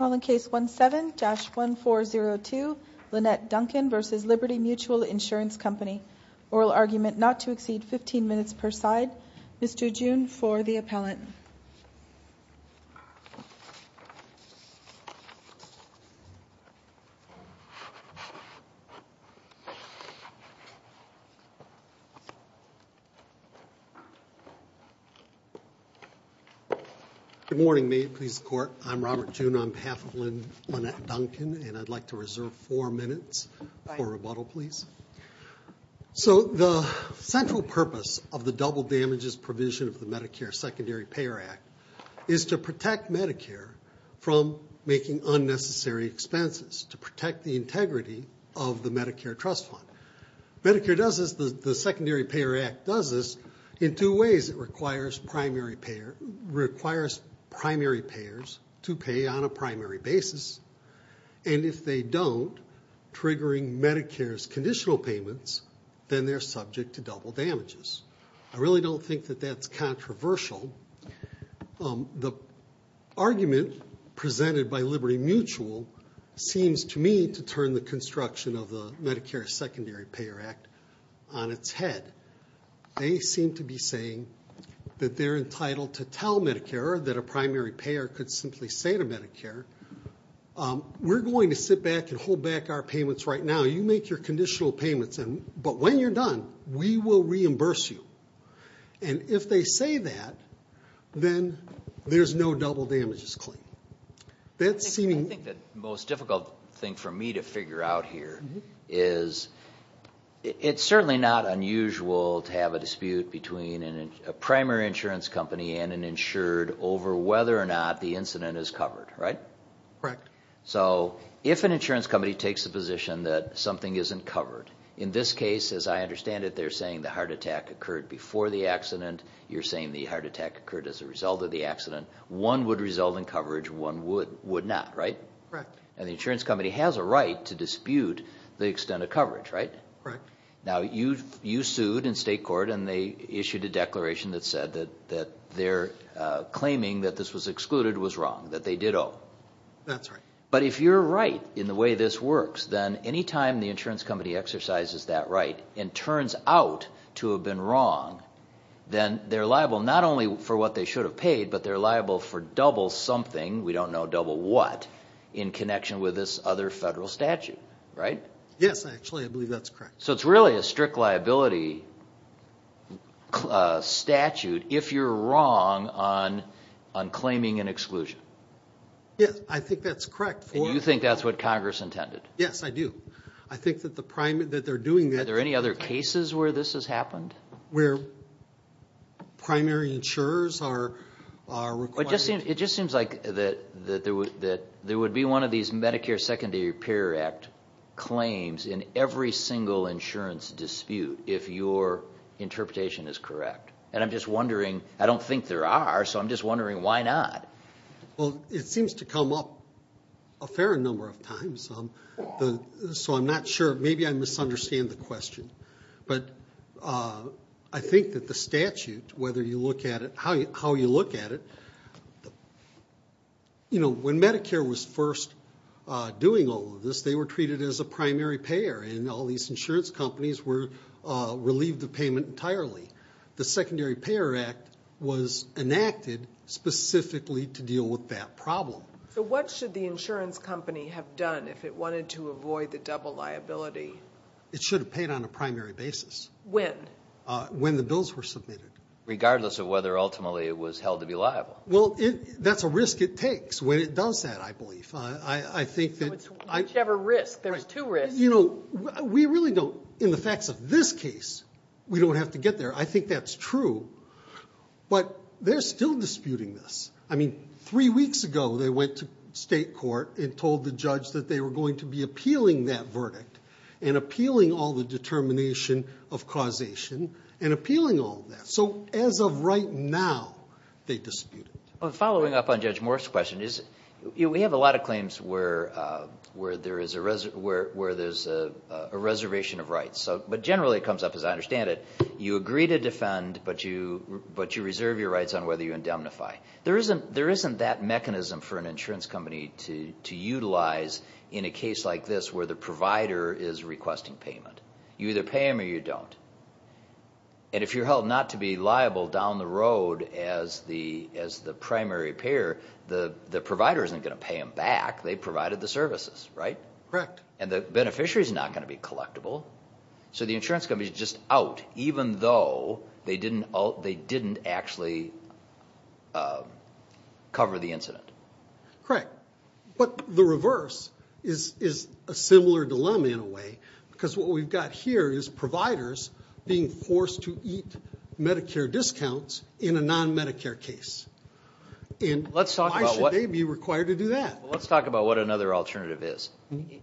17-1402 Lynette Duncan v. Liberty Mutual Insurance Company Oral argument not to exceed 15 minutes per side Mr. June for the appellant Good morning Maid Police Court. I'm Robert June on behalf of Lynette Duncan and I'd like to reserve four minutes for rebuttal please. So the central purpose of the double damages provision of the Medicare Secondary Payer Act is to protect Medicare from making unnecessary expenses to protect the integrity of the Medicare trust fund. Medicare does this, the Secondary Payer Act does this in two ways. It requires primary payers to pay on a primary basis and if they don't, triggering Medicare's conditional payments, then they're subject to double damages. I really don't think that that's controversial. The argument presented by Liberty Mutual seems to me to turn the construction of the Medicare Secondary Payer Act on its head. They seem to be saying that they're entitled to tell Medicare that a primary payer could simply say to Medicare, we're going to sit back and hold back our payments right now. You make your conditional payments, but when you're done, we will reimburse you. And if they say that, then there's no double damages claim. I think the most difficult thing for me to figure out here is it's certainly not unusual to have a dispute between a primary insurance company and an insured over whether or not the incident is covered, right? So if an insurance company takes the position that something isn't covered, in this case, as I understand it, they're saying the heart attack occurred before the accident. You're saying the heart attack occurred as a result of the accident. One would result in coverage, one would not, right? And the insurance company has a right to dispute the extent of coverage, right? Now you sued in state court and they issued a declaration that said that their claiming that this was excluded was wrong, that they did owe. That's right. But if you're right in the way this works, then any time the insurance company exercises that right and turns out to have been wrong, then they're liable not only for what they should have paid, but they're liable for double something, we don't know double what, in connection with this other federal statute, right? Yes, actually, I believe that's correct. So it's really a strict liability statute if you're wrong on claiming an exclusion. Yes, I think that's correct. And you think that's what Congress intended? Yes, I do. I think that they're doing that... Are there any other cases where this has happened? Where primary insurers are required... It just seems like that there would be one of these Medicare Secondary Repair Act claims in every single insurance dispute, if your interpretation is correct. And I'm just wondering, I don't a fair number of times, so I'm not sure, maybe I misunderstand the question. But I think that the statute, whether you look at it, how you look at it, you know, when Medicare was first doing all of this, they were treated as a primary payer, and all these insurance companies were relieved of payment entirely. The Secondary Payer Act was enacted specifically to deal with that problem. So what should the insurance company have done if it wanted to avoid the double liability? It should have paid on a primary basis. When? When the bills were submitted. Regardless of whether ultimately it was held to be liable. Well, that's a risk it takes when it does that, I believe. I think that... You have a risk. There's two risks. You know, we really don't, in the facts of this case, we don't have to get there. I think that's true. But they're still disputing this. I mean, three weeks ago, they went to state court and told the judge that they were going to be appealing that verdict, and appealing all the determination of causation, and appealing all that. So as of right now, they dispute it. Following up on Judge Morse's question, we have a lot of claims where there is a reservation of rights. But generally it comes up, as I understand it, you agree to defend, but you reserve your rights on whether you indemnify. There isn't that mechanism for an insurance company to utilize in a case like this where the provider is requesting payment. You either pay them or you don't. And if you're held not to be liable down the road as the primary payer, the provider isn't going to pay them back. They provided the services, right? Correct. And the beneficiary is not going to be collectible. So the insurance company is just out, even though they didn't actually cover the incident. Correct. But the reverse is a similar dilemma in a way, because what we've got here is providers being forced to eat Medicare discounts in a non-Medicare case. And why should they be required to do that? Let's talk about what another alternative is.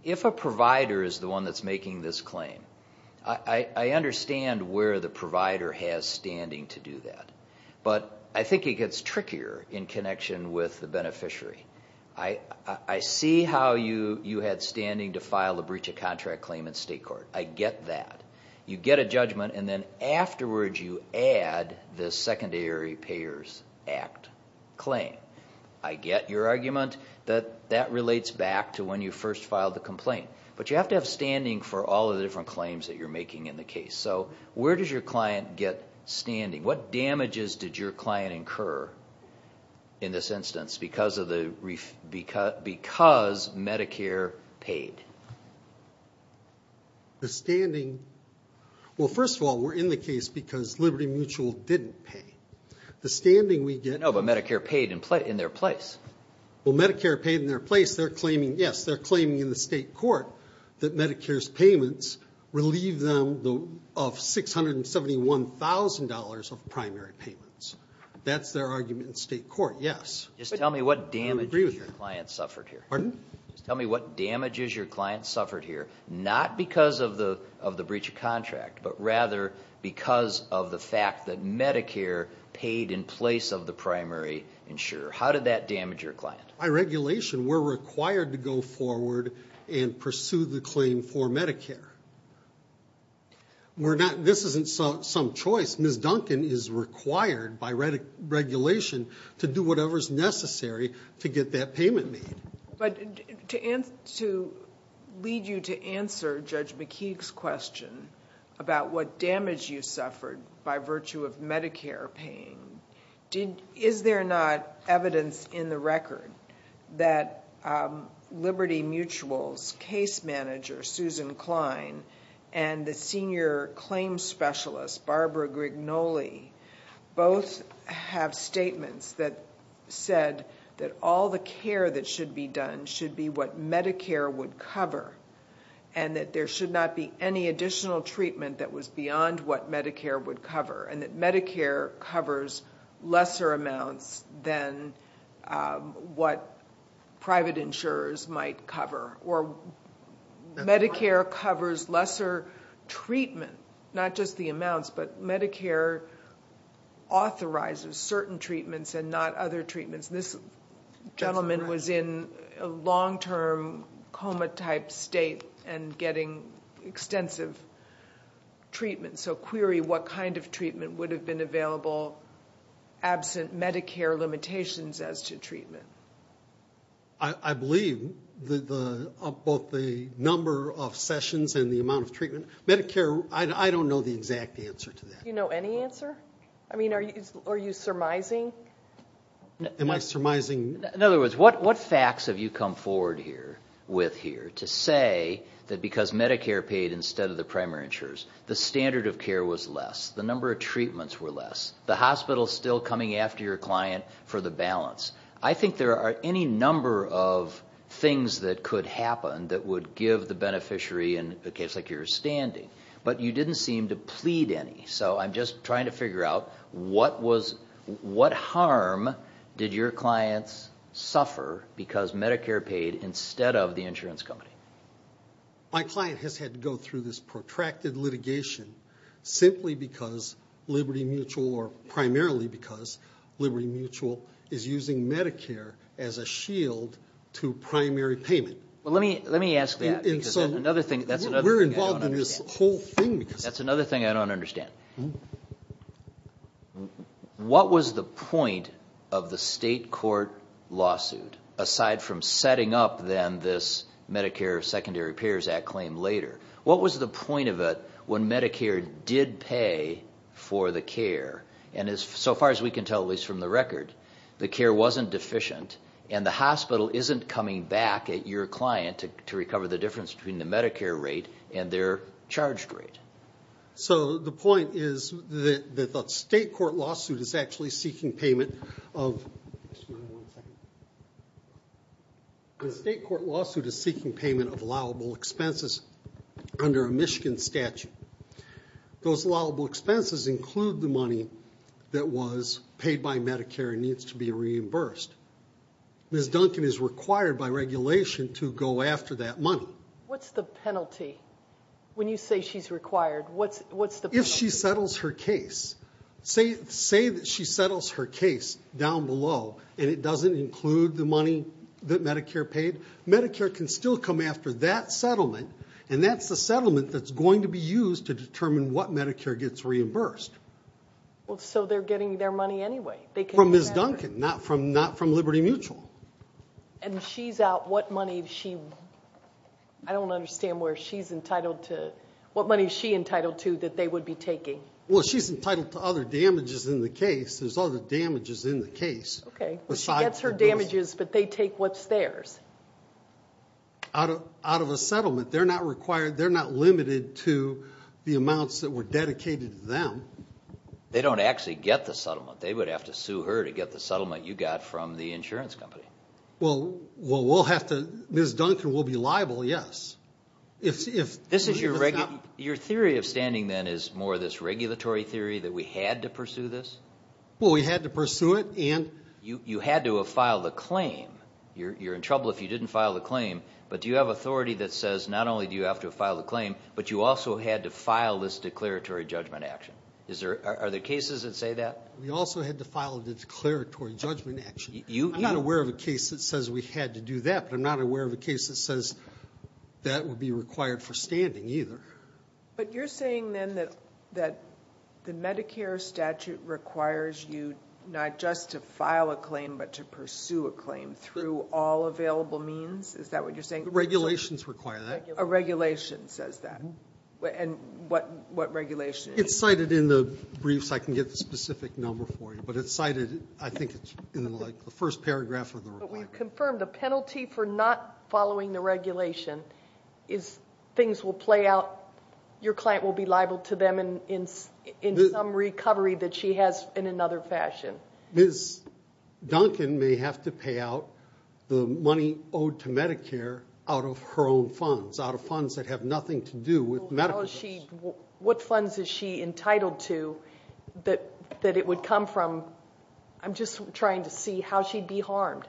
If a provider is the one that's making this claim, I understand where the provider has standing to do that. But I think it gets trickier in connection with the beneficiary. I see how you had standing to file a breach of contract claim in state court. I get that. You get a judgment and then afterwards you add the Secondary Payers Act claim. I get your argument that that relates back to when you first filed the complaint. But you have to have standing for all of the different claims that you're making in the case. So where does your client get standing? What damages did your client incur in this instance because Medicare paid? The standing... Well, first of all, we're in the case because Liberty Mutual didn't pay. The standing we get... No, but Medicare paid in their place. Well, Medicare paid in their place. They're claiming, yes, they're claiming in the state court that Medicare's payments relieve them of $671,000 of primary payments. That's their argument in state court, yes. Just tell me what damages your client suffered here. Pardon? Just tell me what damages your client suffered here, not because of the breach of contract, but rather because of the fact that Medicare paid in place of the primary insurer. How did that damage your client? By regulation, we're required to go forward and pursue the claim for Medicare. This isn't some choice. Ms. Duncan is required by regulation to do whatever's necessary to get that payment made. But to lead you to answer Judge McKeague's question about what damage you suffered by virtue of Medicare paying, is there not evidence in the record that Liberty Mutual's case manager, Susan Klein, and the senior claims specialist, Barbara Grignoli, both have statements that said that all the care that should be done should be what Medicare would cover, and that there should not be any additional treatment that was beyond what Medicare would cover, and that Medicare covers lesser amounts than what private insurers might cover, or Medicare covers lesser treatment, not just the amounts, but Medicare authorizes certain treatments and not other treatments. This gentleman was in a long-term coma-type state and getting extensive treatment. So query what kind of treatment would have been available absent Medicare limitations as to treatment. I believe that both the number of sessions and the amount of treatment. Medicare, I don't know the exact answer to that. Do you know any answer? I mean, are you surmising? Am I surmising? In fact, what facts have you come forward with here to say that because Medicare paid instead of the primary insurers, the standard of care was less, the number of treatments were less, the hospital still coming after your client for the balance? I think there are any number of things that could happen that would give the beneficiary, in a case like yours, standing, but you didn't seem to plead any. So I'm just trying to figure out what harm did your clients suffer because Medicare paid instead of the insurance company? My client has had to go through this protracted litigation simply because Liberty Mutual, or primarily because Liberty Mutual is using Medicare as a shield to primary payment. Well, let me ask that because that's another thing I don't understand. We're involved in this whole thing. That's point of the state court lawsuit, aside from setting up then this Medicare Secondary Repairs Act claim later? What was the point of it when Medicare did pay for the care? And so far as we can tell, at least from the record, the care wasn't deficient and the hospital isn't coming back at your client to recover the difference between the Medicare rate and their charged rate. So the point is that the state court lawsuit is actually seeking payment of allowable expenses under a Michigan statute. Those allowable expenses include the money that was paid by Medicare and needs to be reimbursed. Ms. Duncan is required by When you say she's required, what's the point? If she settles her case, say that she settles her case down below and it doesn't include the money that Medicare paid, Medicare can still come after that settlement and that's the settlement that's going to be used to determine what Medicare gets reimbursed. Well, so they're getting their money anyway. From Ms. Duncan, not from Liberty Mutual. And she's out what money? I don't understand where she's entitled to, what money is she entitled to that they would be taking? Well, she's entitled to other damages in the case. There's other damages in the case. Okay. Well, she gets her damages, but they take what's theirs. Out of a settlement, they're not required, they're not limited to the amounts that were dedicated to them. They don't actually get the settlement. They would have to sue her to get the settlement you got from the insurance company. Well, we'll have to, Ms. Duncan will be liable, yes. Your theory of standing then is more this regulatory theory that we had to pursue this? Well, we had to pursue it and... You had to have filed a claim. You're in trouble if you didn't file a claim, but do you have authority that says not only do you have to file a claim, but you also had to file this declaratory judgment action. Are there cases that say that? We also had to file a declaratory judgment action. I'm not aware of a case that says we had to do that, but I'm not aware of a case that says that would be required for standing either. But you're saying then that the Medicare statute requires you not just to file a claim, but to pursue a claim through all available means? Is that what you're saying? Regulations require that. A regulation says that. And what regulation? It's cited in the briefs. I can get the specific number for you, but it's cited, I think it's in the first paragraph of the requirements. But we've confirmed the penalty for not following the regulation is things will play out, your client will be liable to them in some recovery that she has in another fashion. Ms. Duncan may have to pay out the money owed to Medicare out of her own funds, out of funds that have nothing to do with Medicare. So what funds is she entitled to that it would come from? I'm just trying to see how she'd be harmed.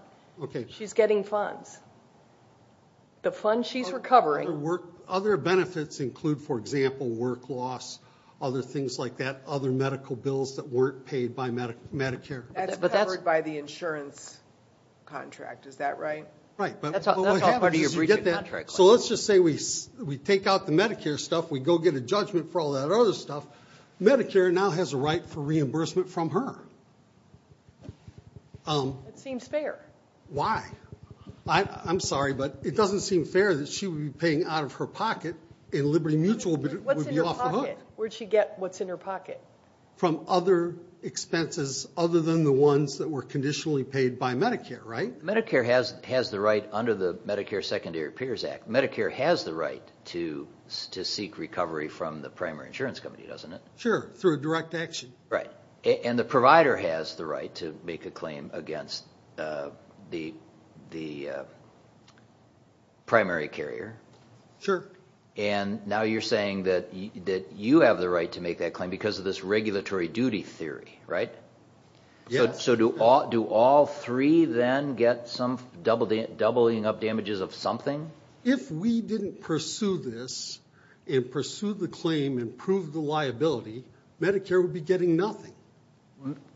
She's getting funds. The funds she's recovering. Other benefits include, for example, work loss, other things like that, other medical bills that weren't paid by Medicare. That's covered by the insurance contract, is that right? Right. That's all part of your briefing contract. So let's just say we take out the Medicare stuff, we go get a judgment for all that other stuff, Medicare now has a right for reimbursement from her. That seems fair. Why? I'm sorry, but it doesn't seem fair that she would be paying out of her pocket and Liberty Mutual would be off the hook. Where'd she get what's in her pocket? From other expenses other than the ones that were conditionally paid by Medicare, right? Medicare has the right under the Medicare Secondary Appears Act, Medicare has the right to seek recovery from the primary insurance company, doesn't it? Sure, through direct action. Right. And the provider has the right to make a claim against the primary carrier. Sure. And now you're saying that you have the right to make that claim because of this regulatory duty theory, right? Yes. So do all three then get some doubling up damages of something? If we didn't pursue this and pursue the claim and prove the liability, Medicare would be getting nothing.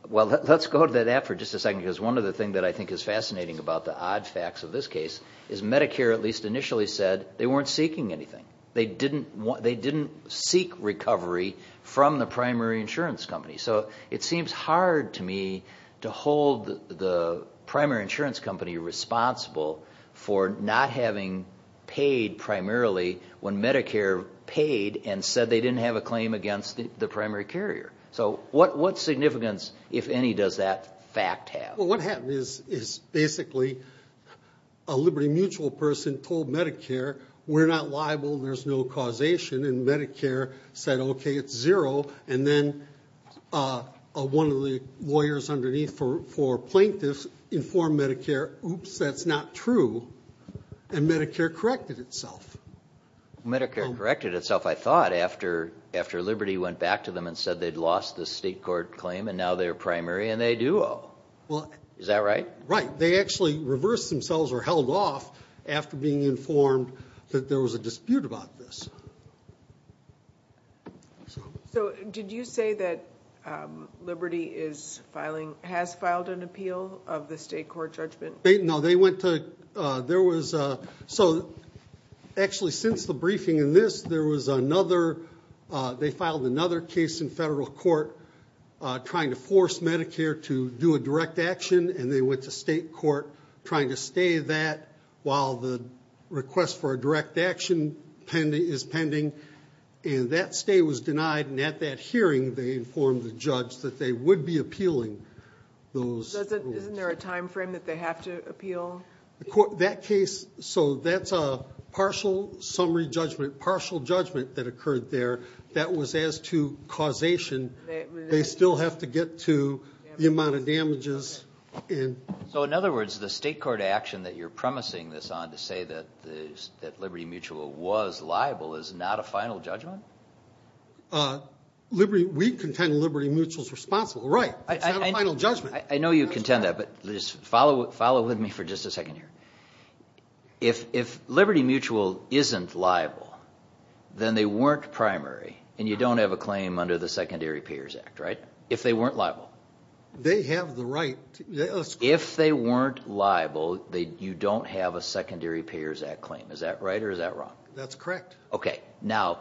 Well, let's go to that for just a second because one of the things that I think is fascinating about the odd facts of this case is Medicare at least initially said they weren't seeking anything. They didn't seek recovery from the primary insurance company. So it seems hard to me to hold the primary insurance company responsible for not having paid primarily when Medicare paid and said they didn't have a claim against the primary carrier. So what significance, if any, does that fact have? What happened is basically a Liberty Mutual person told Medicare, we're not liable, there's no causation. And Medicare said, OK, it's zero. And then one of the lawyers underneath for plaintiffs informed Medicare, oops, that's not true. And Medicare corrected itself. Medicare corrected itself, I thought, after Liberty went back to them and said they'd lost the state court claim and now they're primary and they do owe. Is that right? Right. They actually reversed themselves or held off after being informed that there was a case like this. So did you say that Liberty is filing, has filed an appeal of the state court judgment? No, they went to, there was a, so actually since the briefing in this, there was another, they filed another case in federal court trying to force Medicare to do a direct action and they went to state court trying to stay that while the request for a direct action is pending. And that stay was denied and at that hearing they informed the judge that they would be appealing those rules. Isn't there a time frame that they have to appeal? That case, so that's a partial summary judgment, partial judgment that occurred there that was as to causation. They still have to get to the amount of damages. So in other words, the state court action that you're promising this on to say that Liberty Mutual was liable is not a final judgment? We contend Liberty Mutual's responsible, right, it's not a final judgment. I know you contend that, but just follow with me for just a second here. If Liberty Mutual isn't liable, then they weren't primary and you don't have a claim under the Secondary Payers Act, right? If they weren't liable? They have the right. If they weren't liable, you don't have a Secondary Payers Act claim. Is that right or is that wrong? That's correct. Okay. Now,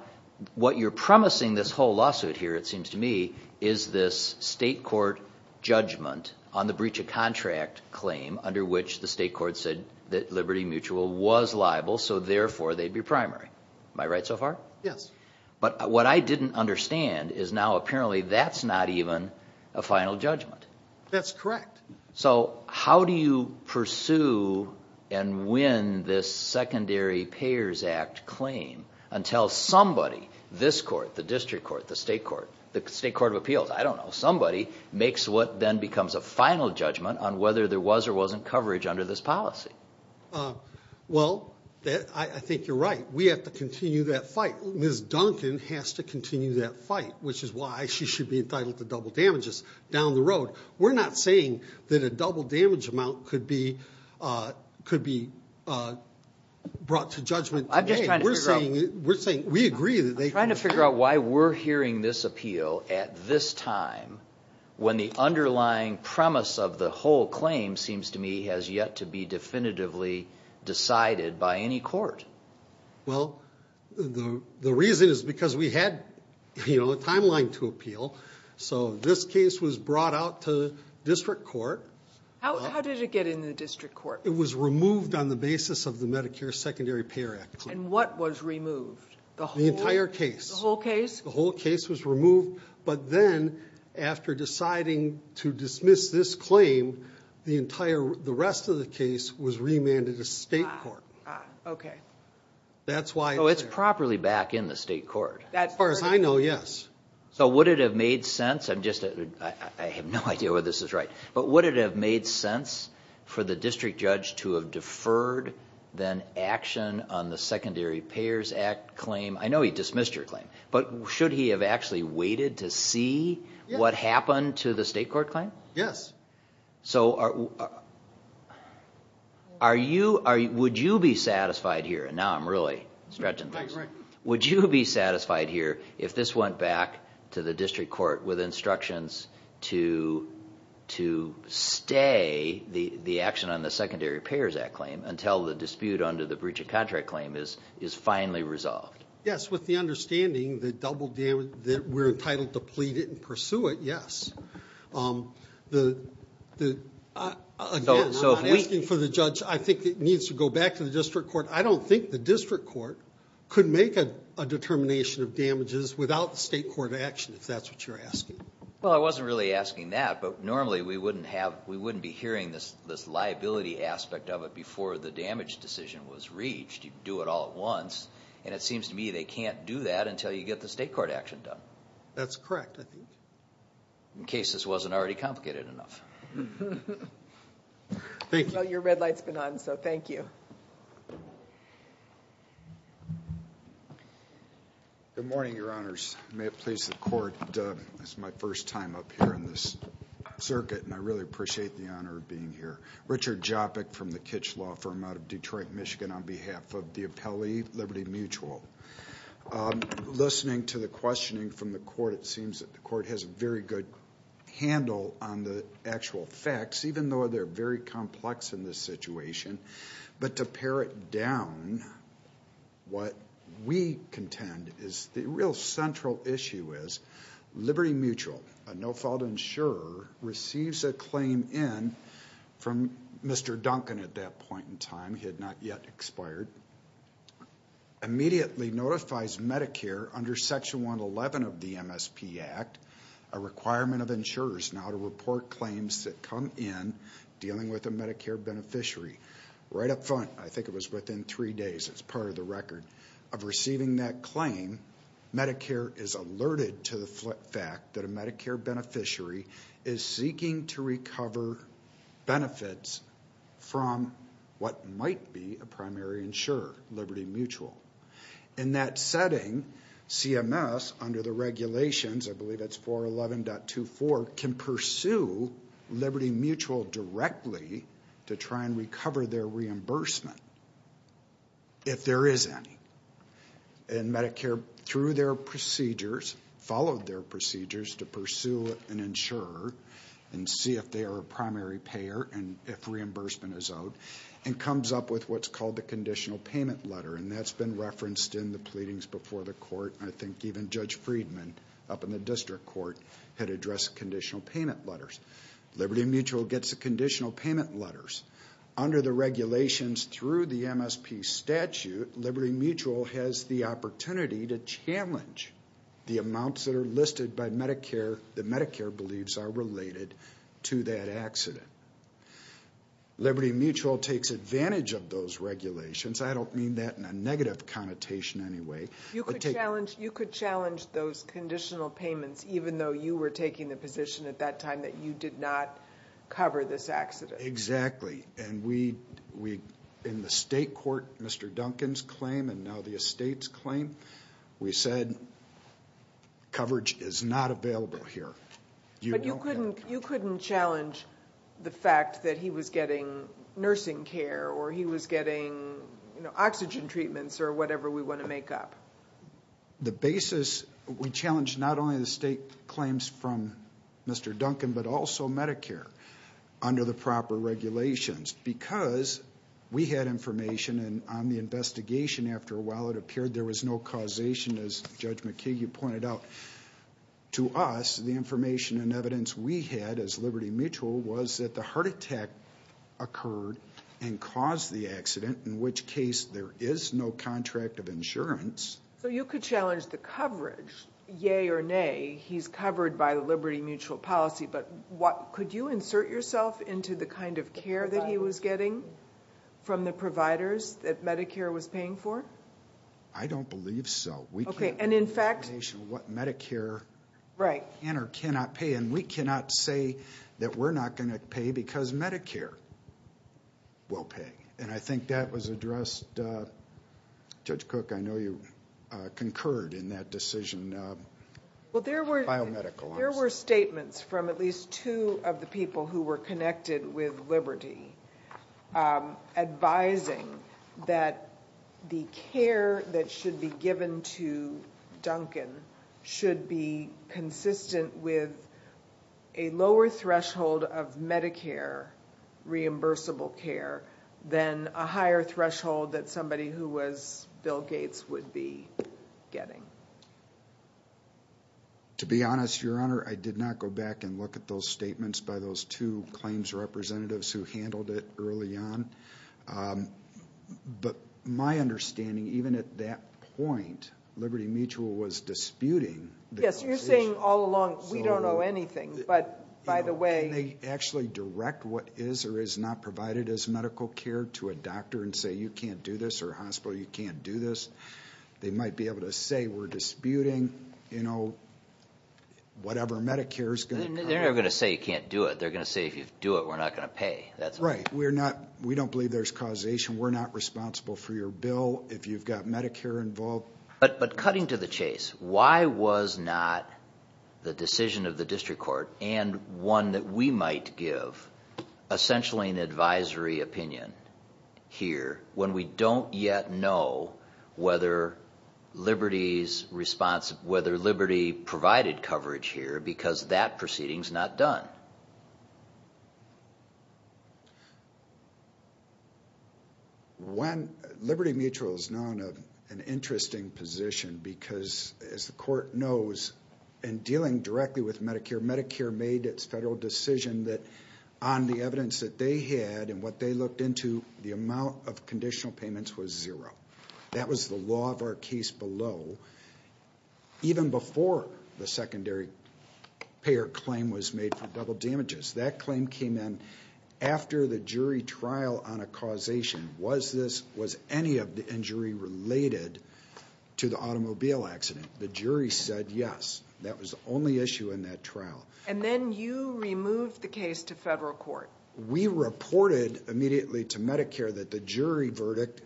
what you're promising this whole lawsuit here, it seems to me, is this state court judgment on the breach of contract claim under which the state court said that Liberty Mutual was liable, so therefore they'd be primary. Am I right so far? Yes. But what I didn't understand is now, apparently, that's not even a final judgment. That's correct. So how do you pursue and win this Secondary Payers Act claim until somebody, this court, the district court, the state court, the state court of appeals, I don't know, somebody makes what then becomes a final judgment on whether there was or wasn't coverage under this policy? Well, I think you're right. We have to continue that fight. Ms. Duncan has to continue that fight, which is why she should be entitled to double damages down the road. We're not saying that a double damage amount could be brought to judgment today. I'm just trying to figure out- We're saying, we agree that they- I'm trying to figure out why we're hearing this appeal at this time when the underlying premise of the whole claim, seems to me, has yet to be definitively decided by any court. Well, the reason is because we had a timeline to appeal. So this case was brought out to district court. How did it get in the district court? It was removed on the basis of the Medicare Secondary Payer Act claim. And what was removed? The whole- The entire case. The whole case? The whole case was removed. But then, after deciding to dismiss this claim, the rest of the case was remanded to state court. Ah, okay. That's why- Oh, it's properly back in the state court. As far as I know, yes. So would it have made sense, I have no idea whether this is right, but would it have made sense for the district judge to have deferred then action on the Secondary Payers Act claim? I know he dismissed your claim, but should he have actually waited to see what happened to the state court claim? Yes. So would you be satisfied here, and now I'm really stretching things, would you be satisfied here if this went back to the district court with instructions to stay the action on the Secondary Payers Act claim until the dispute under the breach of contract claim is finally resolved? Yes, with the understanding that we're entitled to plead it and pursue it, yes. Again, I'm not asking for the judge, I think it needs to go back to the district court. I don't think the district court could make a determination of damages without the state court action, if that's what you're asking. Well, I wasn't really asking that, but normally we wouldn't be hearing this liability aspect of it before the damage decision was reached. You do it all at once, and it seems to me they can't do that until you get the state court action done. That's correct, I think. In case this wasn't already complicated enough. Thank you. Well, your red light's been on, so thank you. Good morning, your honors. May it please the court, this is my first time up here in this circuit, and I really appreciate the honor of being here. Richard Jopik from the Kitsch Law Firm out of Detroit, Michigan on behalf of the Appellee Liberty Mutual. Listening to the questioning from the court, it seems that the court has a very good handle on the actual facts, even though they're very complex in this situation. But to pare it down, what we contend is the real central issue is Liberty Mutual, a no fault insurer, receives a claim in from Mr. Duncan at that point in time. He had not yet expired. Immediately notifies Medicare under Section 111 of the MSP Act, a requirement of insurers now to report claims that come in dealing with a Medicare beneficiary. Right up front, I think it was within three days, it's part of the record, of receiving that claim, Medicare is alerted to the fact that a Medicare beneficiary is seeking to insure Liberty Mutual. In that setting, CMS, under the regulations, I believe it's 411.24, can pursue Liberty Mutual directly to try and recover their reimbursement, if there is any. And Medicare, through their procedures, followed their procedures to pursue an insurer and see if they are a primary payer and if reimbursement is owed, and comes up with what's called the conditional payment letter. And that's been referenced in the pleadings before the court. I think even Judge Friedman, up in the district court, had addressed conditional payment letters. Liberty Mutual gets the conditional payment letters. Under the regulations through the MSP statute, Liberty Mutual has the opportunity to challenge the amounts that are listed by Medicare that Medicare believes are related to that accident. Liberty Mutual takes advantage of those regulations. I don't mean that in a negative connotation anyway. You could challenge those conditional payments, even though you were taking the position at that time that you did not cover this accident. Exactly. And we, in the state court, Mr. Duncan's claim and now the estate's claim, we said coverage is not available here. But you couldn't challenge the fact that he was getting nursing care or he was getting oxygen treatments or whatever we want to make up. The basis, we challenged not only the state claims from Mr. Duncan, but also Medicare under the proper regulations. Because we had information and on the investigation, after a while it appeared there was no causation, as Judge McKee, you pointed out. To us, the information and evidence we had as Liberty Mutual was that the heart attack occurred and caused the accident, in which case there is no contract of insurance. So you could challenge the coverage, yea or nay, he's covered by the Liberty Mutual policy, but could you insert yourself into the kind of care that he was getting from the providers that Medicare was paying for? I don't believe so. Okay, and in fact... We can't have an explanation of what Medicare can or cannot pay. And we cannot say that we're not going to pay because Medicare will pay. And I think that was addressed, Judge Cook, I know you concurred in that decision, biomedical. There were statements from at least two of the people who were connected with Liberty advising that the care that should be given to Duncan should be consistent with a lower threshold of Medicare reimbursable care than a higher threshold that somebody who was Bill Gates would be getting. To be honest, Your Honor, I did not go back and look at those statements by those two claims representatives who handled it early on, but my understanding, even at that point, Liberty Mutual was disputing... Yes, you're saying all along, we don't know anything, but by the way... Can they actually direct what is or is not provided as medical care to a doctor and say, you can't do this, or a hospital, you can't do this? They might be able to say, we're disputing, you know, whatever Medicare is going to cover. They're never going to say, you can't do it. They're going to say, if you do it, we're not going to pay. Right. We don't believe there's causation. We're not responsible for your bill. If you've got Medicare involved... But cutting to the chase, why was not the decision of the district court and one that we might give essentially an advisory opinion here when we don't yet know whether Liberty provided coverage here because that proceeding is not done? Liberty Mutual is now in an interesting position because, as the court knows, in dealing directly with Medicare, Medicare made its federal decision that on the evidence that they had and what they looked into, the amount of conditional payments was zero. That was the law of our case below, even before the secondary payer claim was made for double damages. That claim came in after the jury trial on a causation. Was any of the injury related to the automobile accident? The jury said yes. That was the only issue in that trial. And then you removed the case to federal court. We reported immediately to Medicare that the jury verdict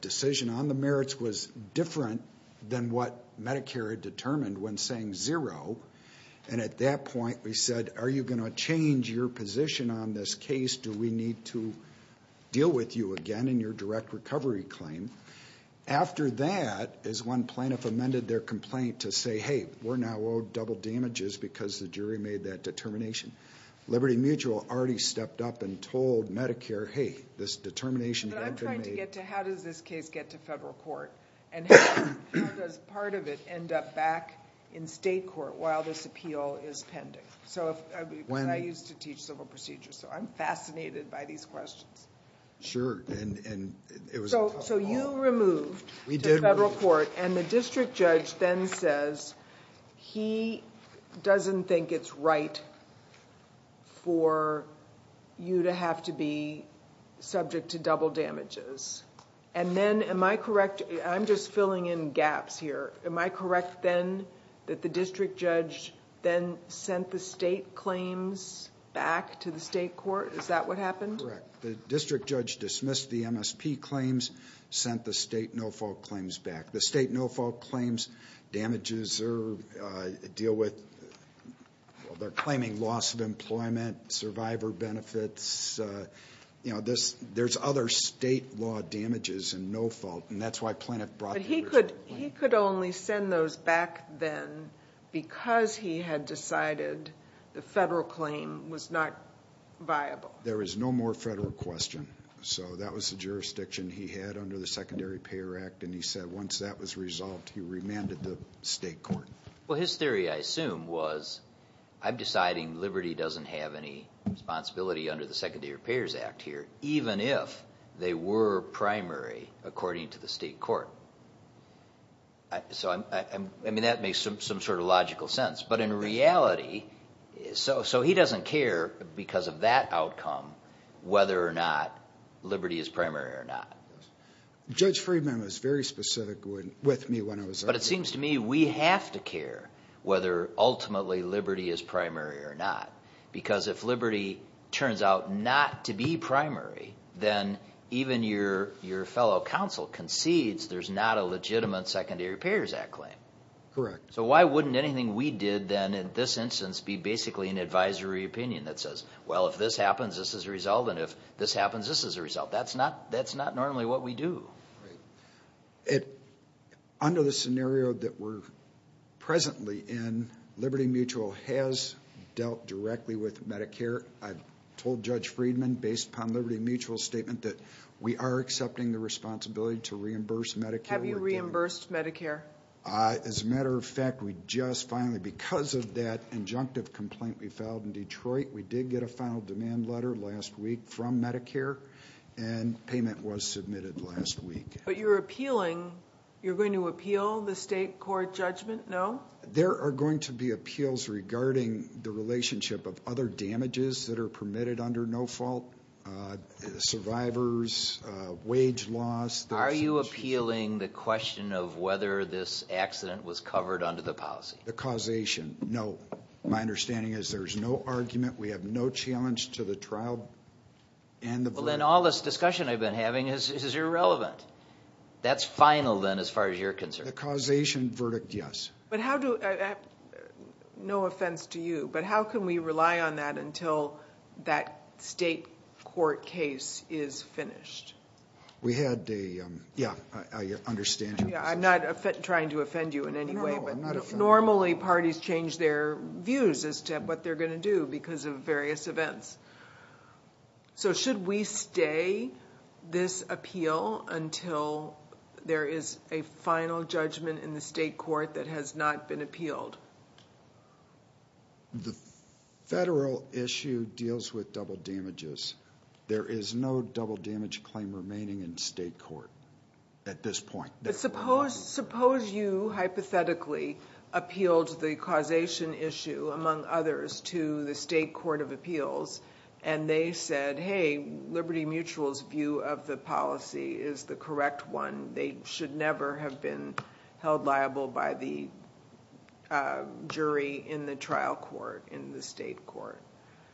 decision on the merits was different than what Medicare had determined when saying zero. And at that point, we said, are you going to change your position on this case? Do we need to deal with you again in your direct recovery claim? After that, as one plaintiff amended their complaint to say, hey, we're now owed double damages because the jury made that determination. Liberty Mutual already stepped up and told Medicare, hey, this determination had been made. But I'm trying to get to how does this case get to federal court? And how does part of it end up back in state court while this appeal is pending? Because I used to teach civil procedures, so I'm fascinated by these questions. So you removed to federal court. We did remove. And the district judge then says he doesn't think it's right for you to have to be subject to double damages. And then, am I correct? I'm just filling in gaps here. Am I correct then that the district judge then sent the state claims back to the state court? Is that what happened? Correct. The district judge dismissed the MSP claims, sent the state no-fault claims back. The state no-fault claims damages deal with, they're claiming loss of employment, survivor benefits. You know, there's other state law damages in no-fault, and that's why plaintiff brought the original claim. But he could only send those back then because he had decided the federal claim was not viable. There is no more federal question. So that was the jurisdiction he had under the Secondary Payer Act. And he said once that was resolved, he remanded the state court. Well, his theory, I assume, was I'm deciding Liberty doesn't have any responsibility under the Secondary Payers Act here, even if they were primary, according to the state court. So, I mean, that makes some sort of logical sense. But in reality, so he doesn't care because of that outcome whether or not Liberty is primary or not. Judge Friedman was very specific with me when I was there. But it seems to me we have to care whether ultimately Liberty is primary or not. Because if Liberty turns out not to be primary, then even your fellow counsel concedes there's not a legitimate Secondary Payers Act claim. Correct. So why wouldn't anything we did then in this instance be basically an advisory opinion that says, well, if this happens, this is a result. And if this happens, this is a result. That's not normally what we do. Under the scenario that we're presently in, Liberty Mutual has dealt directly with Medicare. I've told Judge Friedman, based upon Liberty Mutual's statement, that we are accepting the responsibility to reimburse Medicare. Have you reimbursed Medicare? As a matter of fact, we just finally, because of that injunctive complaint we filed in Detroit, we did get a final demand letter last week from Medicare, and payment was submitted last week. But you're appealing, you're going to appeal the state court judgment, no? There are going to be appeals regarding the relationship of other damages that are permitted under no fault, survivors, wage loss. Are you appealing the question of whether this accident was covered under the policy? The causation, no. My understanding is there's no argument, we have no challenge to the trial and the verdict. Well, then all this discussion I've been having is irrelevant. That's final, then, as far as you're concerned. The causation verdict, yes. But how do, no offense to you, but how can we rely on that until that state court case is finished? We had the, yeah, I understand your position. Yeah, I'm not trying to offend you in any way, but normally parties change their views as to what they're going to do because of various events. So should we stay this appeal until there is a final judgment in the state court that has not been appealed? The federal issue deals with double damages. There is no double damage claim remaining in state court at this point. But suppose you hypothetically appealed the causation issue, among others, to the state court of appeals, and they said, hey, Liberty Mutual's view of the policy is the correct one. They should never have been held liable by the jury in the trial court in the state court.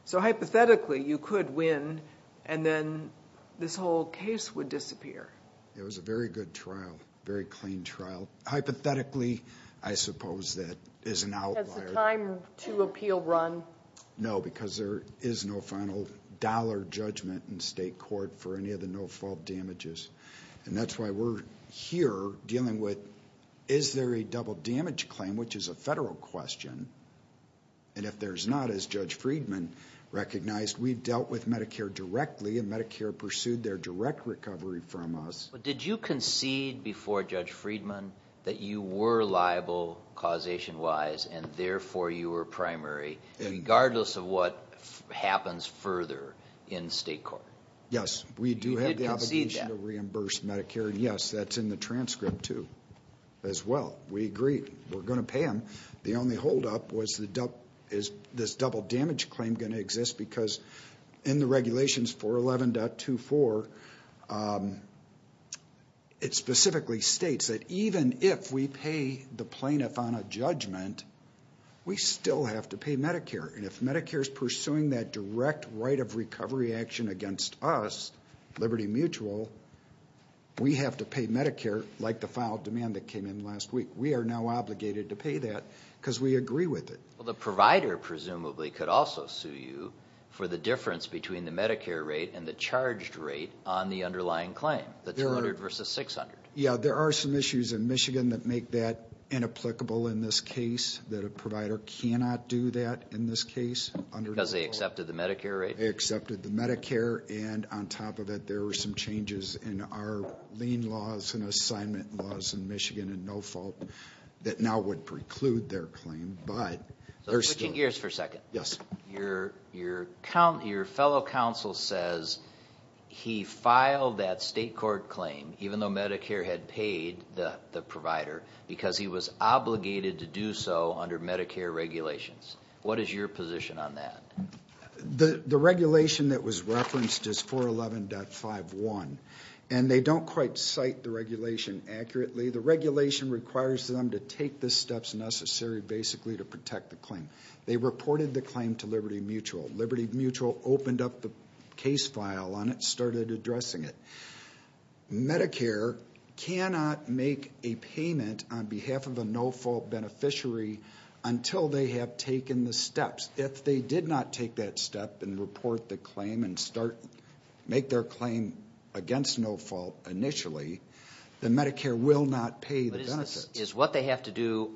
So hypothetically, you could win, and then this whole case would disappear. It was a very good trial, very clean trial. Hypothetically, I suppose that is an outlier. Has the time to appeal run? No, because there is no final dollar judgment in state court for any of the no-fault damages. And that's why we're here dealing with is there a double damage claim, which is a federal question. And if there's not, as Judge Friedman recognized, we've dealt with Medicare directly, and Medicare pursued their direct recovery from us. But did you concede before Judge Friedman that you were liable causation-wise, and therefore you were primary, regardless of what happens further in state court? Yes, we do have the obligation to reimburse Medicare. Yes, that's in the transcript, too, as well. We agree. We're going to pay them. The only holdup was is this double damage claim going to exist? Because in the regulations, 411.24, it specifically states that even if we pay the plaintiff on a judgment, we still have to pay Medicare. And if Medicare is pursuing that direct right of recovery action against us, Liberty Mutual, we have to pay Medicare like the filed demand that came in last week. We are now obligated to pay that because we agree with it. Well, the provider presumably could also sue you for the difference between the Medicare rate and the charged rate on the underlying claim, the 200 versus 600. Yeah, there are some issues in Michigan that make that inapplicable in this case, that a provider cannot do that in this case. Because they accepted the Medicare rate? They accepted the Medicare, and on top of that, there were some changes in our lien laws and assignment laws in Michigan, and no fault, that now would preclude their claim. Switching gears for a second. Yes. Your fellow counsel says he filed that state court claim, even though Medicare had paid the provider, because he was obligated to do so under Medicare regulations. What is your position on that? The regulation that was referenced is 411.51, and they don't quite cite the regulation accurately. The regulation requires them to take the steps necessary basically to protect the claim. They reported the claim to Liberty Mutual. Liberty Mutual opened up the case file on it and started addressing it. Medicare cannot make a payment on behalf of a no-fault beneficiary until they have taken the steps. If they did not take that step and report the claim and make their claim against no fault initially, then Medicare will not pay the benefits. But is what they have to do,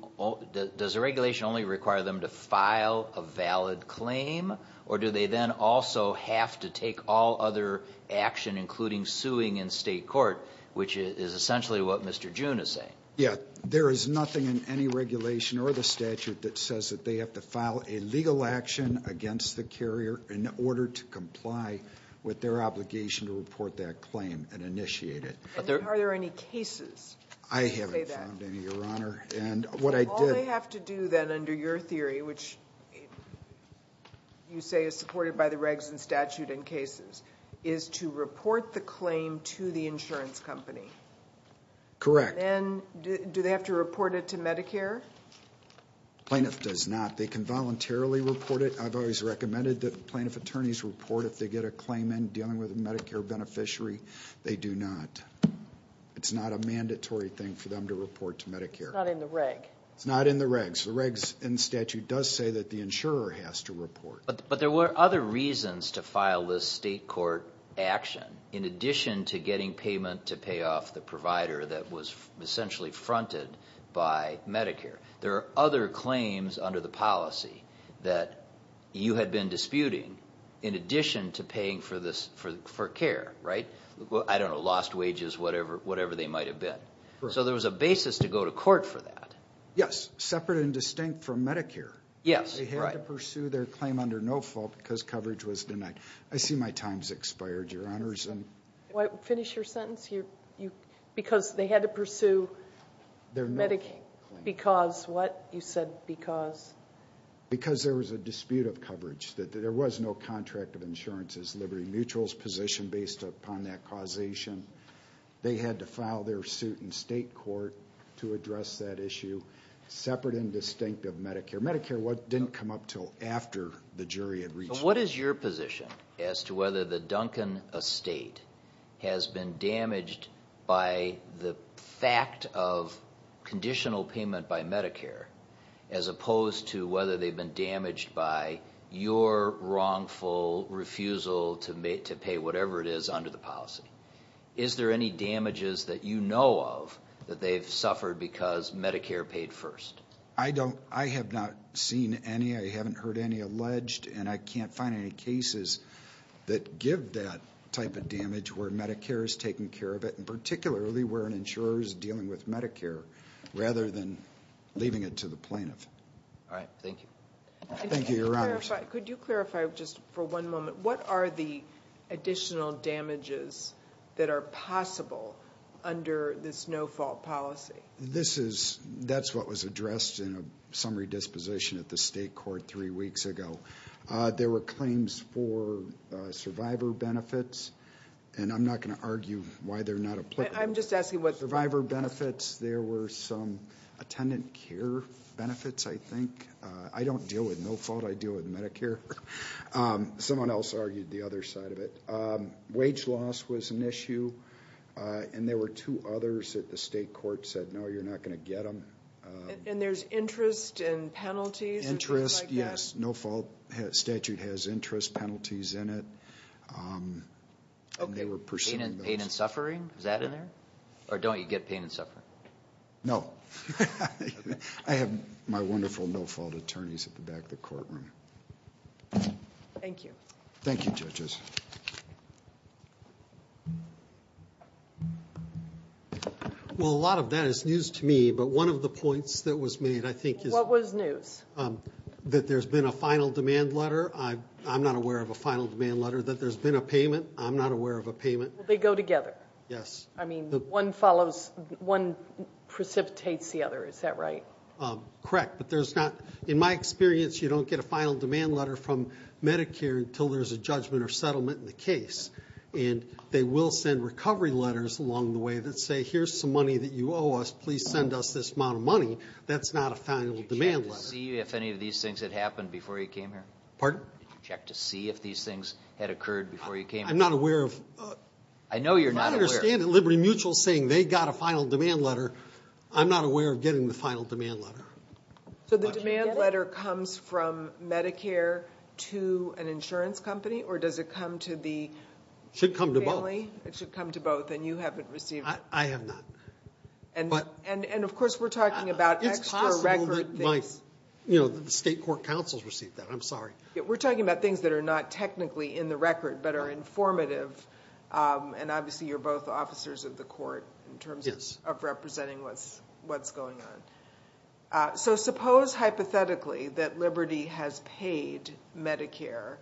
does the regulation only require them to file a valid claim, or do they then also have to take all other action, including suing in state court, which is essentially what Mr. June is saying? There is nothing in any regulation or the statute that says that they have to file a legal action against the carrier in order to comply with their obligation to report that claim and initiate it. Are there any cases? I haven't found any, Your Honor. All they have to do then under your theory, which you say is supported by the regs and statute and cases, is to report the claim to the insurance company. Correct. And then do they have to report it to Medicare? Plaintiff does not. They can voluntarily report it. I've always recommended that plaintiff attorneys report if they get a claim in dealing with a Medicare beneficiary. They do not. It's not a mandatory thing for them to report to Medicare. It's not in the regs. It's not in the regs. The regs and statute does say that the insurer has to report. But there were other reasons to file this state court action, in addition to getting payment to pay off the provider that was essentially fronted by Medicare. There are other claims under the policy that you had been disputing, in addition to paying for care, right? I don't know, lost wages, whatever they might have been. So there was a basis to go to court for that. Yes, separate and distinct from Medicare. They had to pursue their claim under no fault because coverage was denied. I see my time has expired, Your Honors. Finish your sentence. Because they had to pursue Medicaid because what? You said because? Because there was a dispute of coverage. There was no contract of insurance as Liberty Mutual's position based upon that causation. They had to file their suit in state court to address that issue. Separate and distinct of Medicare. Medicare didn't come up until after the jury had reached it. What is your position as to whether the Duncan estate has been damaged by the fact of conditional payment by Medicare, as opposed to whether they've been damaged by your wrongful refusal to pay whatever it is under the policy? Is there any damages that you know of that they've suffered because Medicare paid first? I have not seen any. I haven't heard any alleged, and I can't find any cases that give that type of damage where Medicare is taking care of it, and particularly where an insurer is dealing with Medicare rather than leaving it to the plaintiff. All right. Thank you. Thank you, Your Honors. Could you clarify just for one moment, what are the additional damages that are possible under this no fault policy? That's what was addressed in a summary disposition at the state court three weeks ago. There were claims for survivor benefits, and I'm not going to argue why they're not applicable. I'm just asking what survivor benefits. There were some attendant care benefits, I think. I don't deal with no fault. I deal with Medicare. Someone else argued the other side of it. Wage loss was an issue, and there were two others that the state court said, no, you're not going to get them. And there's interest and penalties and things like that? Interest, yes. No fault statute has interest penalties in it, and they were pursuing those. Okay. Pain and suffering? Is that in there? Or don't you get pain and suffering? No. I have my wonderful no fault attorneys at the back of the courtroom. Thank you. Thank you, judges. Well, a lot of that is news to me, but one of the points that was made, I think, is What was news? That there's been a final demand letter. I'm not aware of a final demand letter. That there's been a payment. I'm not aware of a payment. They go together. Yes. I mean, one precipitates the other. Is that right? Correct. In my experience, you don't get a final demand letter from Medicare until there's a judgment or settlement in the case, and they will send recovery letters along the way that say, Here's some money that you owe us. Please send us this amount of money. That's not a final demand letter. Did you check to see if any of these things had happened before you came here? Pardon? Did you check to see if these things had occurred before you came here? I'm not aware of I know you're not aware. I don't understand the Liberty Mutual saying they got a final demand letter. I'm not aware of getting the final demand letter. So the demand letter comes from Medicare to an insurance company? Or does it come to the family? It should come to both. It should come to both, and you haven't received it. I have not. And of course, we're talking about extra record things. It's possible that the state court counsels received that. I'm sorry. We're talking about things that are not technically in the record, but are informative. And obviously, you're both officers of the court in terms of representing what's going on. So suppose hypothetically that Liberty has paid Medicare,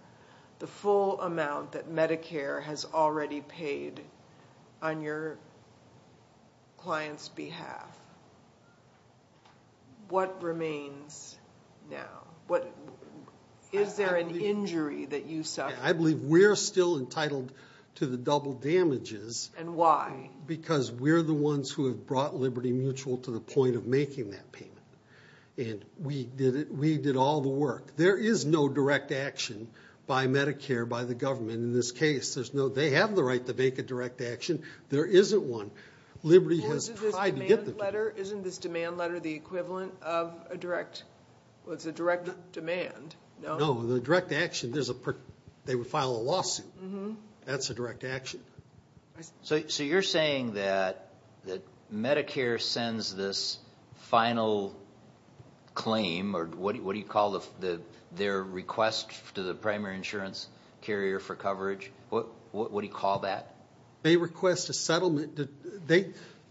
the full amount that Medicare has already paid on your client's behalf. What remains now? Is there an injury that you suffer? I believe we're still entitled to the double damages. And why? Because we're the ones who have brought Liberty Mutual to the point of making that payment. And we did all the work. There is no direct action by Medicare, by the government in this case. They have the right to make a direct action. There isn't one. Well, isn't this demand letter the equivalent of a direct demand? No. No, the direct action, they would file a lawsuit. That's a direct action. So you're saying that Medicare sends this final claim, or what do you call their request to the primary insurance carrier for coverage? What do you call that? They request a settlement.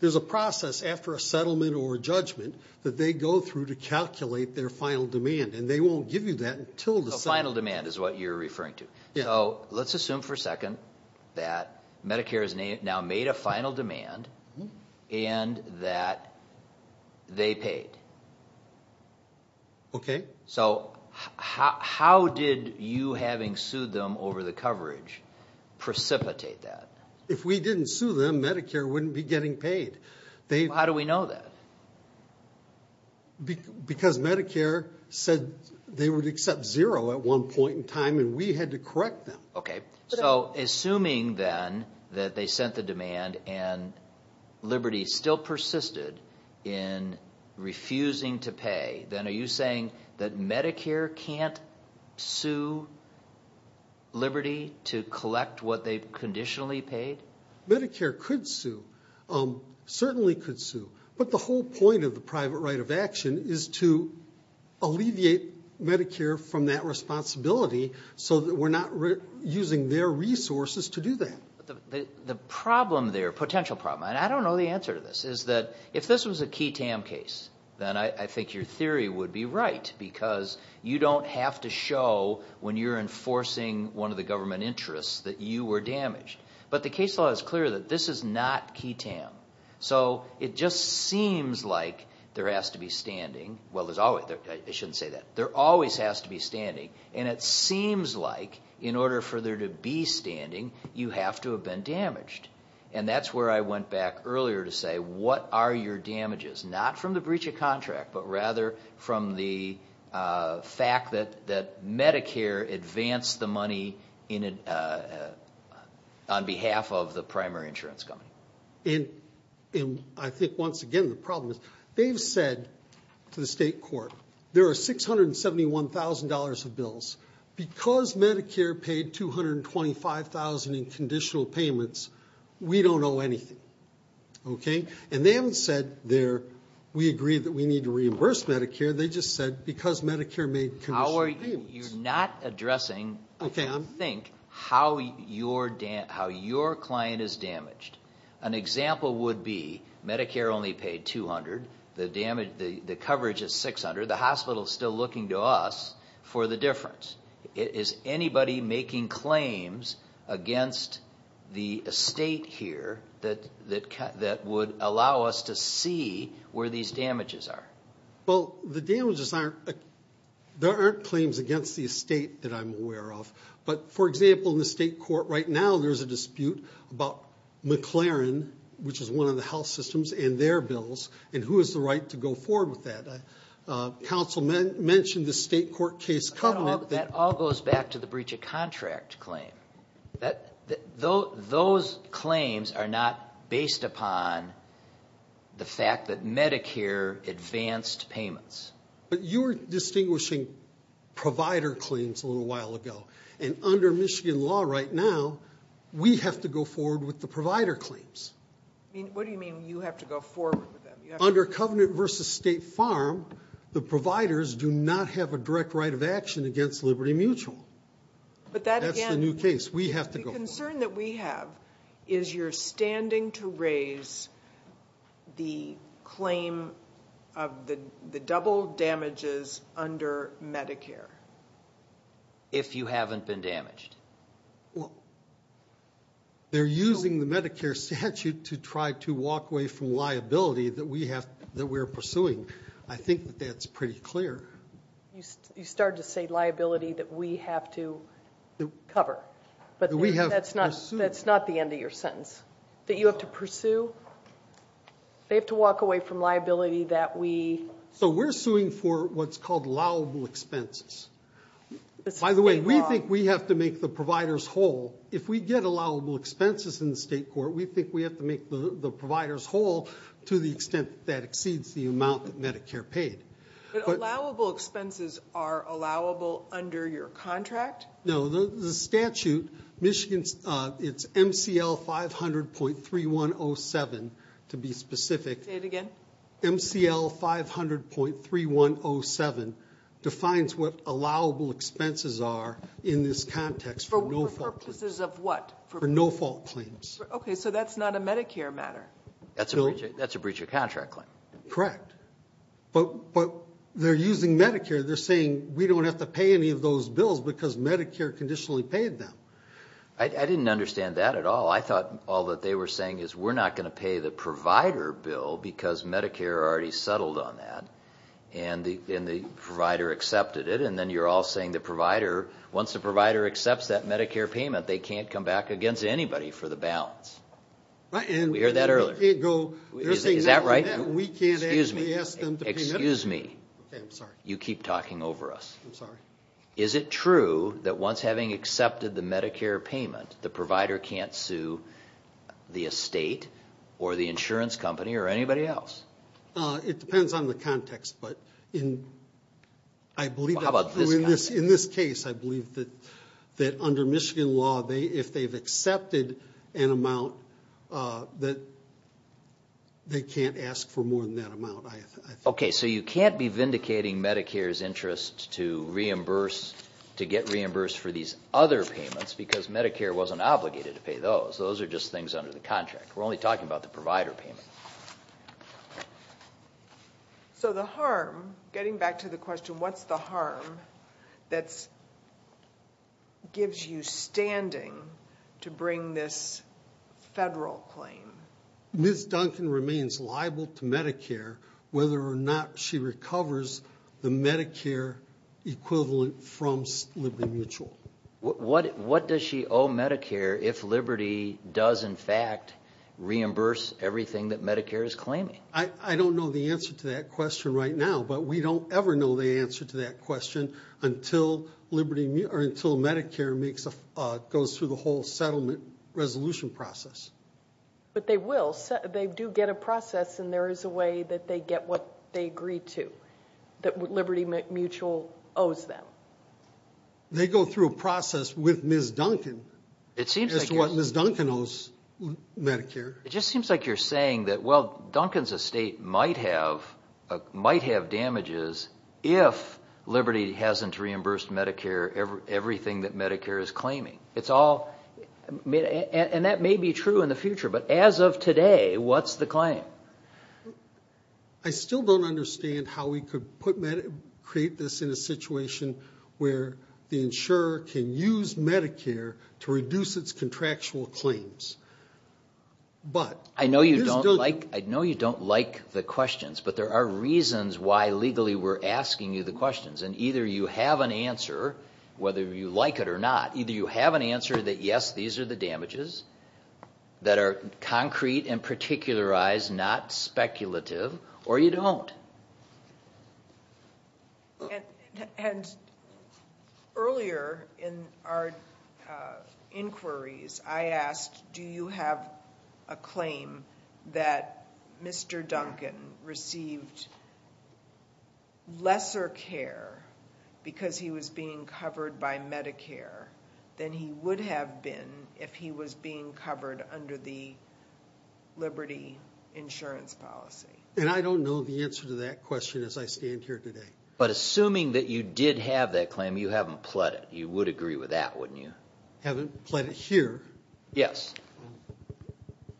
There's a process after a settlement or a judgment that they go through to calculate their final demand. And they won't give you that until the settlement. So final demand is what you're referring to. So let's assume for a second that Medicare has now made a final demand and that they paid. Okay. So how did you, having sued them over the coverage, precipitate that? If we didn't sue them, Medicare wouldn't be getting paid. How do we know that? Because Medicare said they would accept zero at one point in time, and we had to correct them. Okay. So assuming then that they sent the demand and Liberty still persisted in refusing to pay, then are you saying that Medicare can't sue Liberty to collect what they've conditionally paid? Medicare could sue, certainly could sue. But the whole point of the private right of action is to alleviate Medicare from that responsibility so that we're not using their resources to do that. The problem there, potential problem, and I don't know the answer to this, is that if this was a key TAM case, then I think your theory would be right because you don't have to show when you're enforcing one of the government interests that you were damaged. But the case law is clear that this is not key TAM. So it just seems like there has to be standing. Well, I shouldn't say that. There always has to be standing, and it seems like in order for there to be standing, you have to have been damaged. And that's where I went back earlier to say, what are your damages? Not from the breach of contract, but rather from the fact that Medicare advanced the money on behalf of the primary insurance company. And I think once again the problem is they've said to the state court, there are $671,000 of bills. Because Medicare paid $225,000 in conditional payments, we don't owe anything. And they haven't said we agree that we need to reimburse Medicare. They just said because Medicare made conditional payments. So you're not addressing, I think, how your client is damaged. An example would be Medicare only paid $200,000, the coverage is $600,000, the hospital is still looking to us for the difference. Is anybody making claims against the state here that would allow us to see where these damages are? Well, the damages aren't, there aren't claims against the state that I'm aware of. But, for example, in the state court right now there's a dispute about McLaren, which is one of the health systems, and their bills, and who has the right to go forward with that. Council mentioned the state court case covenant. That all goes back to the breach of contract claim. Those claims are not based upon the fact that Medicare advanced payments. But you were distinguishing provider claims a little while ago. And under Michigan law right now, we have to go forward with the provider claims. What do you mean you have to go forward with them? Under covenant versus state farm, the providers do not have a direct right of action against Liberty Mutual. That's the new case. We have to go forward. The concern that we have is you're standing to raise the claim of the double damages under Medicare. If you haven't been damaged. They're using the Medicare statute to try to walk away from liability that we're pursuing. I think that that's pretty clear. You started to say liability that we have to cover. But that's not the end of your sentence. That you have to pursue. They have to walk away from liability that we... So we're suing for what's called allowable expenses. By the way, we think we have to make the providers whole. If we get allowable expenses in the state court, we think we have to make the providers whole to the extent that exceeds the amount that Medicare paid. But allowable expenses are allowable under your contract? No, the statute, Michigan, it's MCL 500.3107 to be specific. Say it again. MCL 500.3107 defines what allowable expenses are in this context for no fault claims. For purposes of what? For no fault claims. Okay, so that's not a Medicare matter. That's a breach of contract claim. Correct. But they're using Medicare. They're saying we don't have to pay any of those bills because Medicare conditionally paid them. I didn't understand that at all. I thought all that they were saying is we're not going to pay the provider bill because Medicare already settled on that and the provider accepted it. And then you're all saying once the provider accepts that Medicare payment, they can't come back against anybody for the balance. We heard that earlier. Is that right? We can't ask them to pay Medicare? Excuse me. Okay, I'm sorry. You keep talking over us. I'm sorry. Is it true that once having accepted the Medicare payment, the provider can't sue the estate or the insurance company or anybody else? It depends on the context. But I believe that in this case, I believe that under Michigan law, if they've accepted an amount, that they can't ask for more than that amount. Okay, so you can't be vindicating Medicare's interest to get reimbursed for these other payments because Medicare wasn't obligated to pay those. Those are just things under the contract. We're only talking about the provider payment. So the harm, getting back to the question, what's the harm that gives you standing to bring this federal claim? Ms. Duncan remains liable to Medicare whether or not she recovers the Medicare equivalent from Liberty Mutual. What does she owe Medicare if Liberty does, in fact, reimburse everything that Medicare is claiming? I don't know the answer to that question right now, but we don't ever know the answer to that question until Medicare goes through the whole settlement resolution process. But they will. They do get a process, and there is a way that they get what they agree to, that Liberty Mutual owes them. They go through a process with Ms. Duncan as to what Ms. Duncan owes Medicare. It just seems like you're saying that, well, Duncan's estate might have damages if Liberty hasn't reimbursed Medicare everything that Medicare is claiming. And that may be true in the future, but as of today, what's the claim? I still don't understand how we could create this in a situation where the insurer can use Medicare to reduce its contractual claims. I know you don't like the questions, but there are reasons why legally we're asking you the questions, and either you have an answer, whether you like it or not. Either you have an answer that, yes, these are the damages that are concrete and particularized, and they're not speculative, or you don't. And earlier in our inquiries, I asked, do you have a claim that Mr. Duncan received lesser care because he was being covered by Medicare than he would have been if he was being covered under the Liberty insurance policy? And I don't know the answer to that question as I stand here today. But assuming that you did have that claim, you haven't pled it. You would agree with that, wouldn't you? I haven't pled it here. Yes.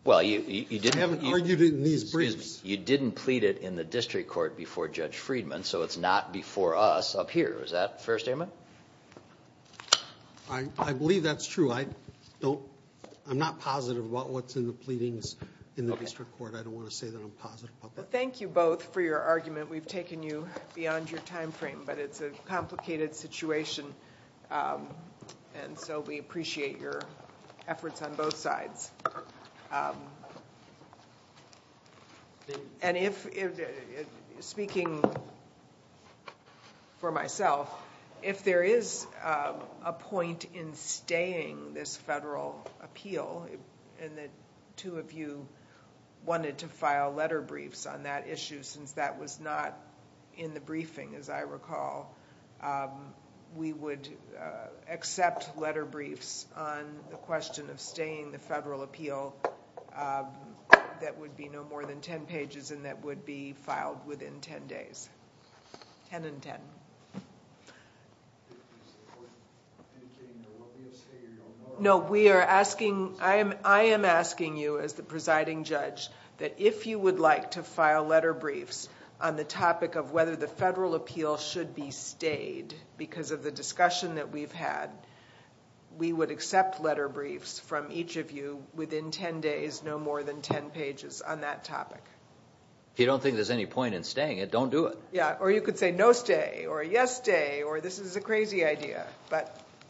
I haven't argued it in these briefs. You didn't plead it in the district court before Judge Friedman, so it's not before us up here. Is that a fair statement? I believe that's true. I'm not positive about what's in the pleadings in the district court. I don't want to say that I'm positive about that. Well, thank you both for your argument. We've taken you beyond your time frame, but it's a complicated situation, and so we appreciate your efforts on both sides. And speaking for myself, if there is a point in staying this federal appeal, and the two of you wanted to file letter briefs on that issue since that was not in the briefing, as I recall, we would accept letter briefs on the question of staying the federal appeal that would be no more than 10 pages and that would be filed within 10 days. Ten and ten. Is the court indicating that what we are saying or you don't know? No. I am asking you as the presiding judge that if you would like to file letter briefs on the topic of whether the federal appeal should be stayed because of the discussion that we've had, we would accept letter briefs from each of you within 10 days, no more than 10 pages on that topic. If you don't think there's any point in staying it, don't do it. Or you could say no stay or yes stay or this is a crazy idea.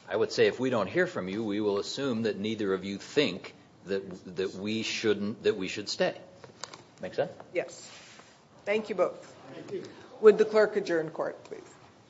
I would say if we don't hear from you, we will assume that neither of you think that we should stay. Make sense? Yes. Thank you both. Thank you. Would the clerk adjourn court, please?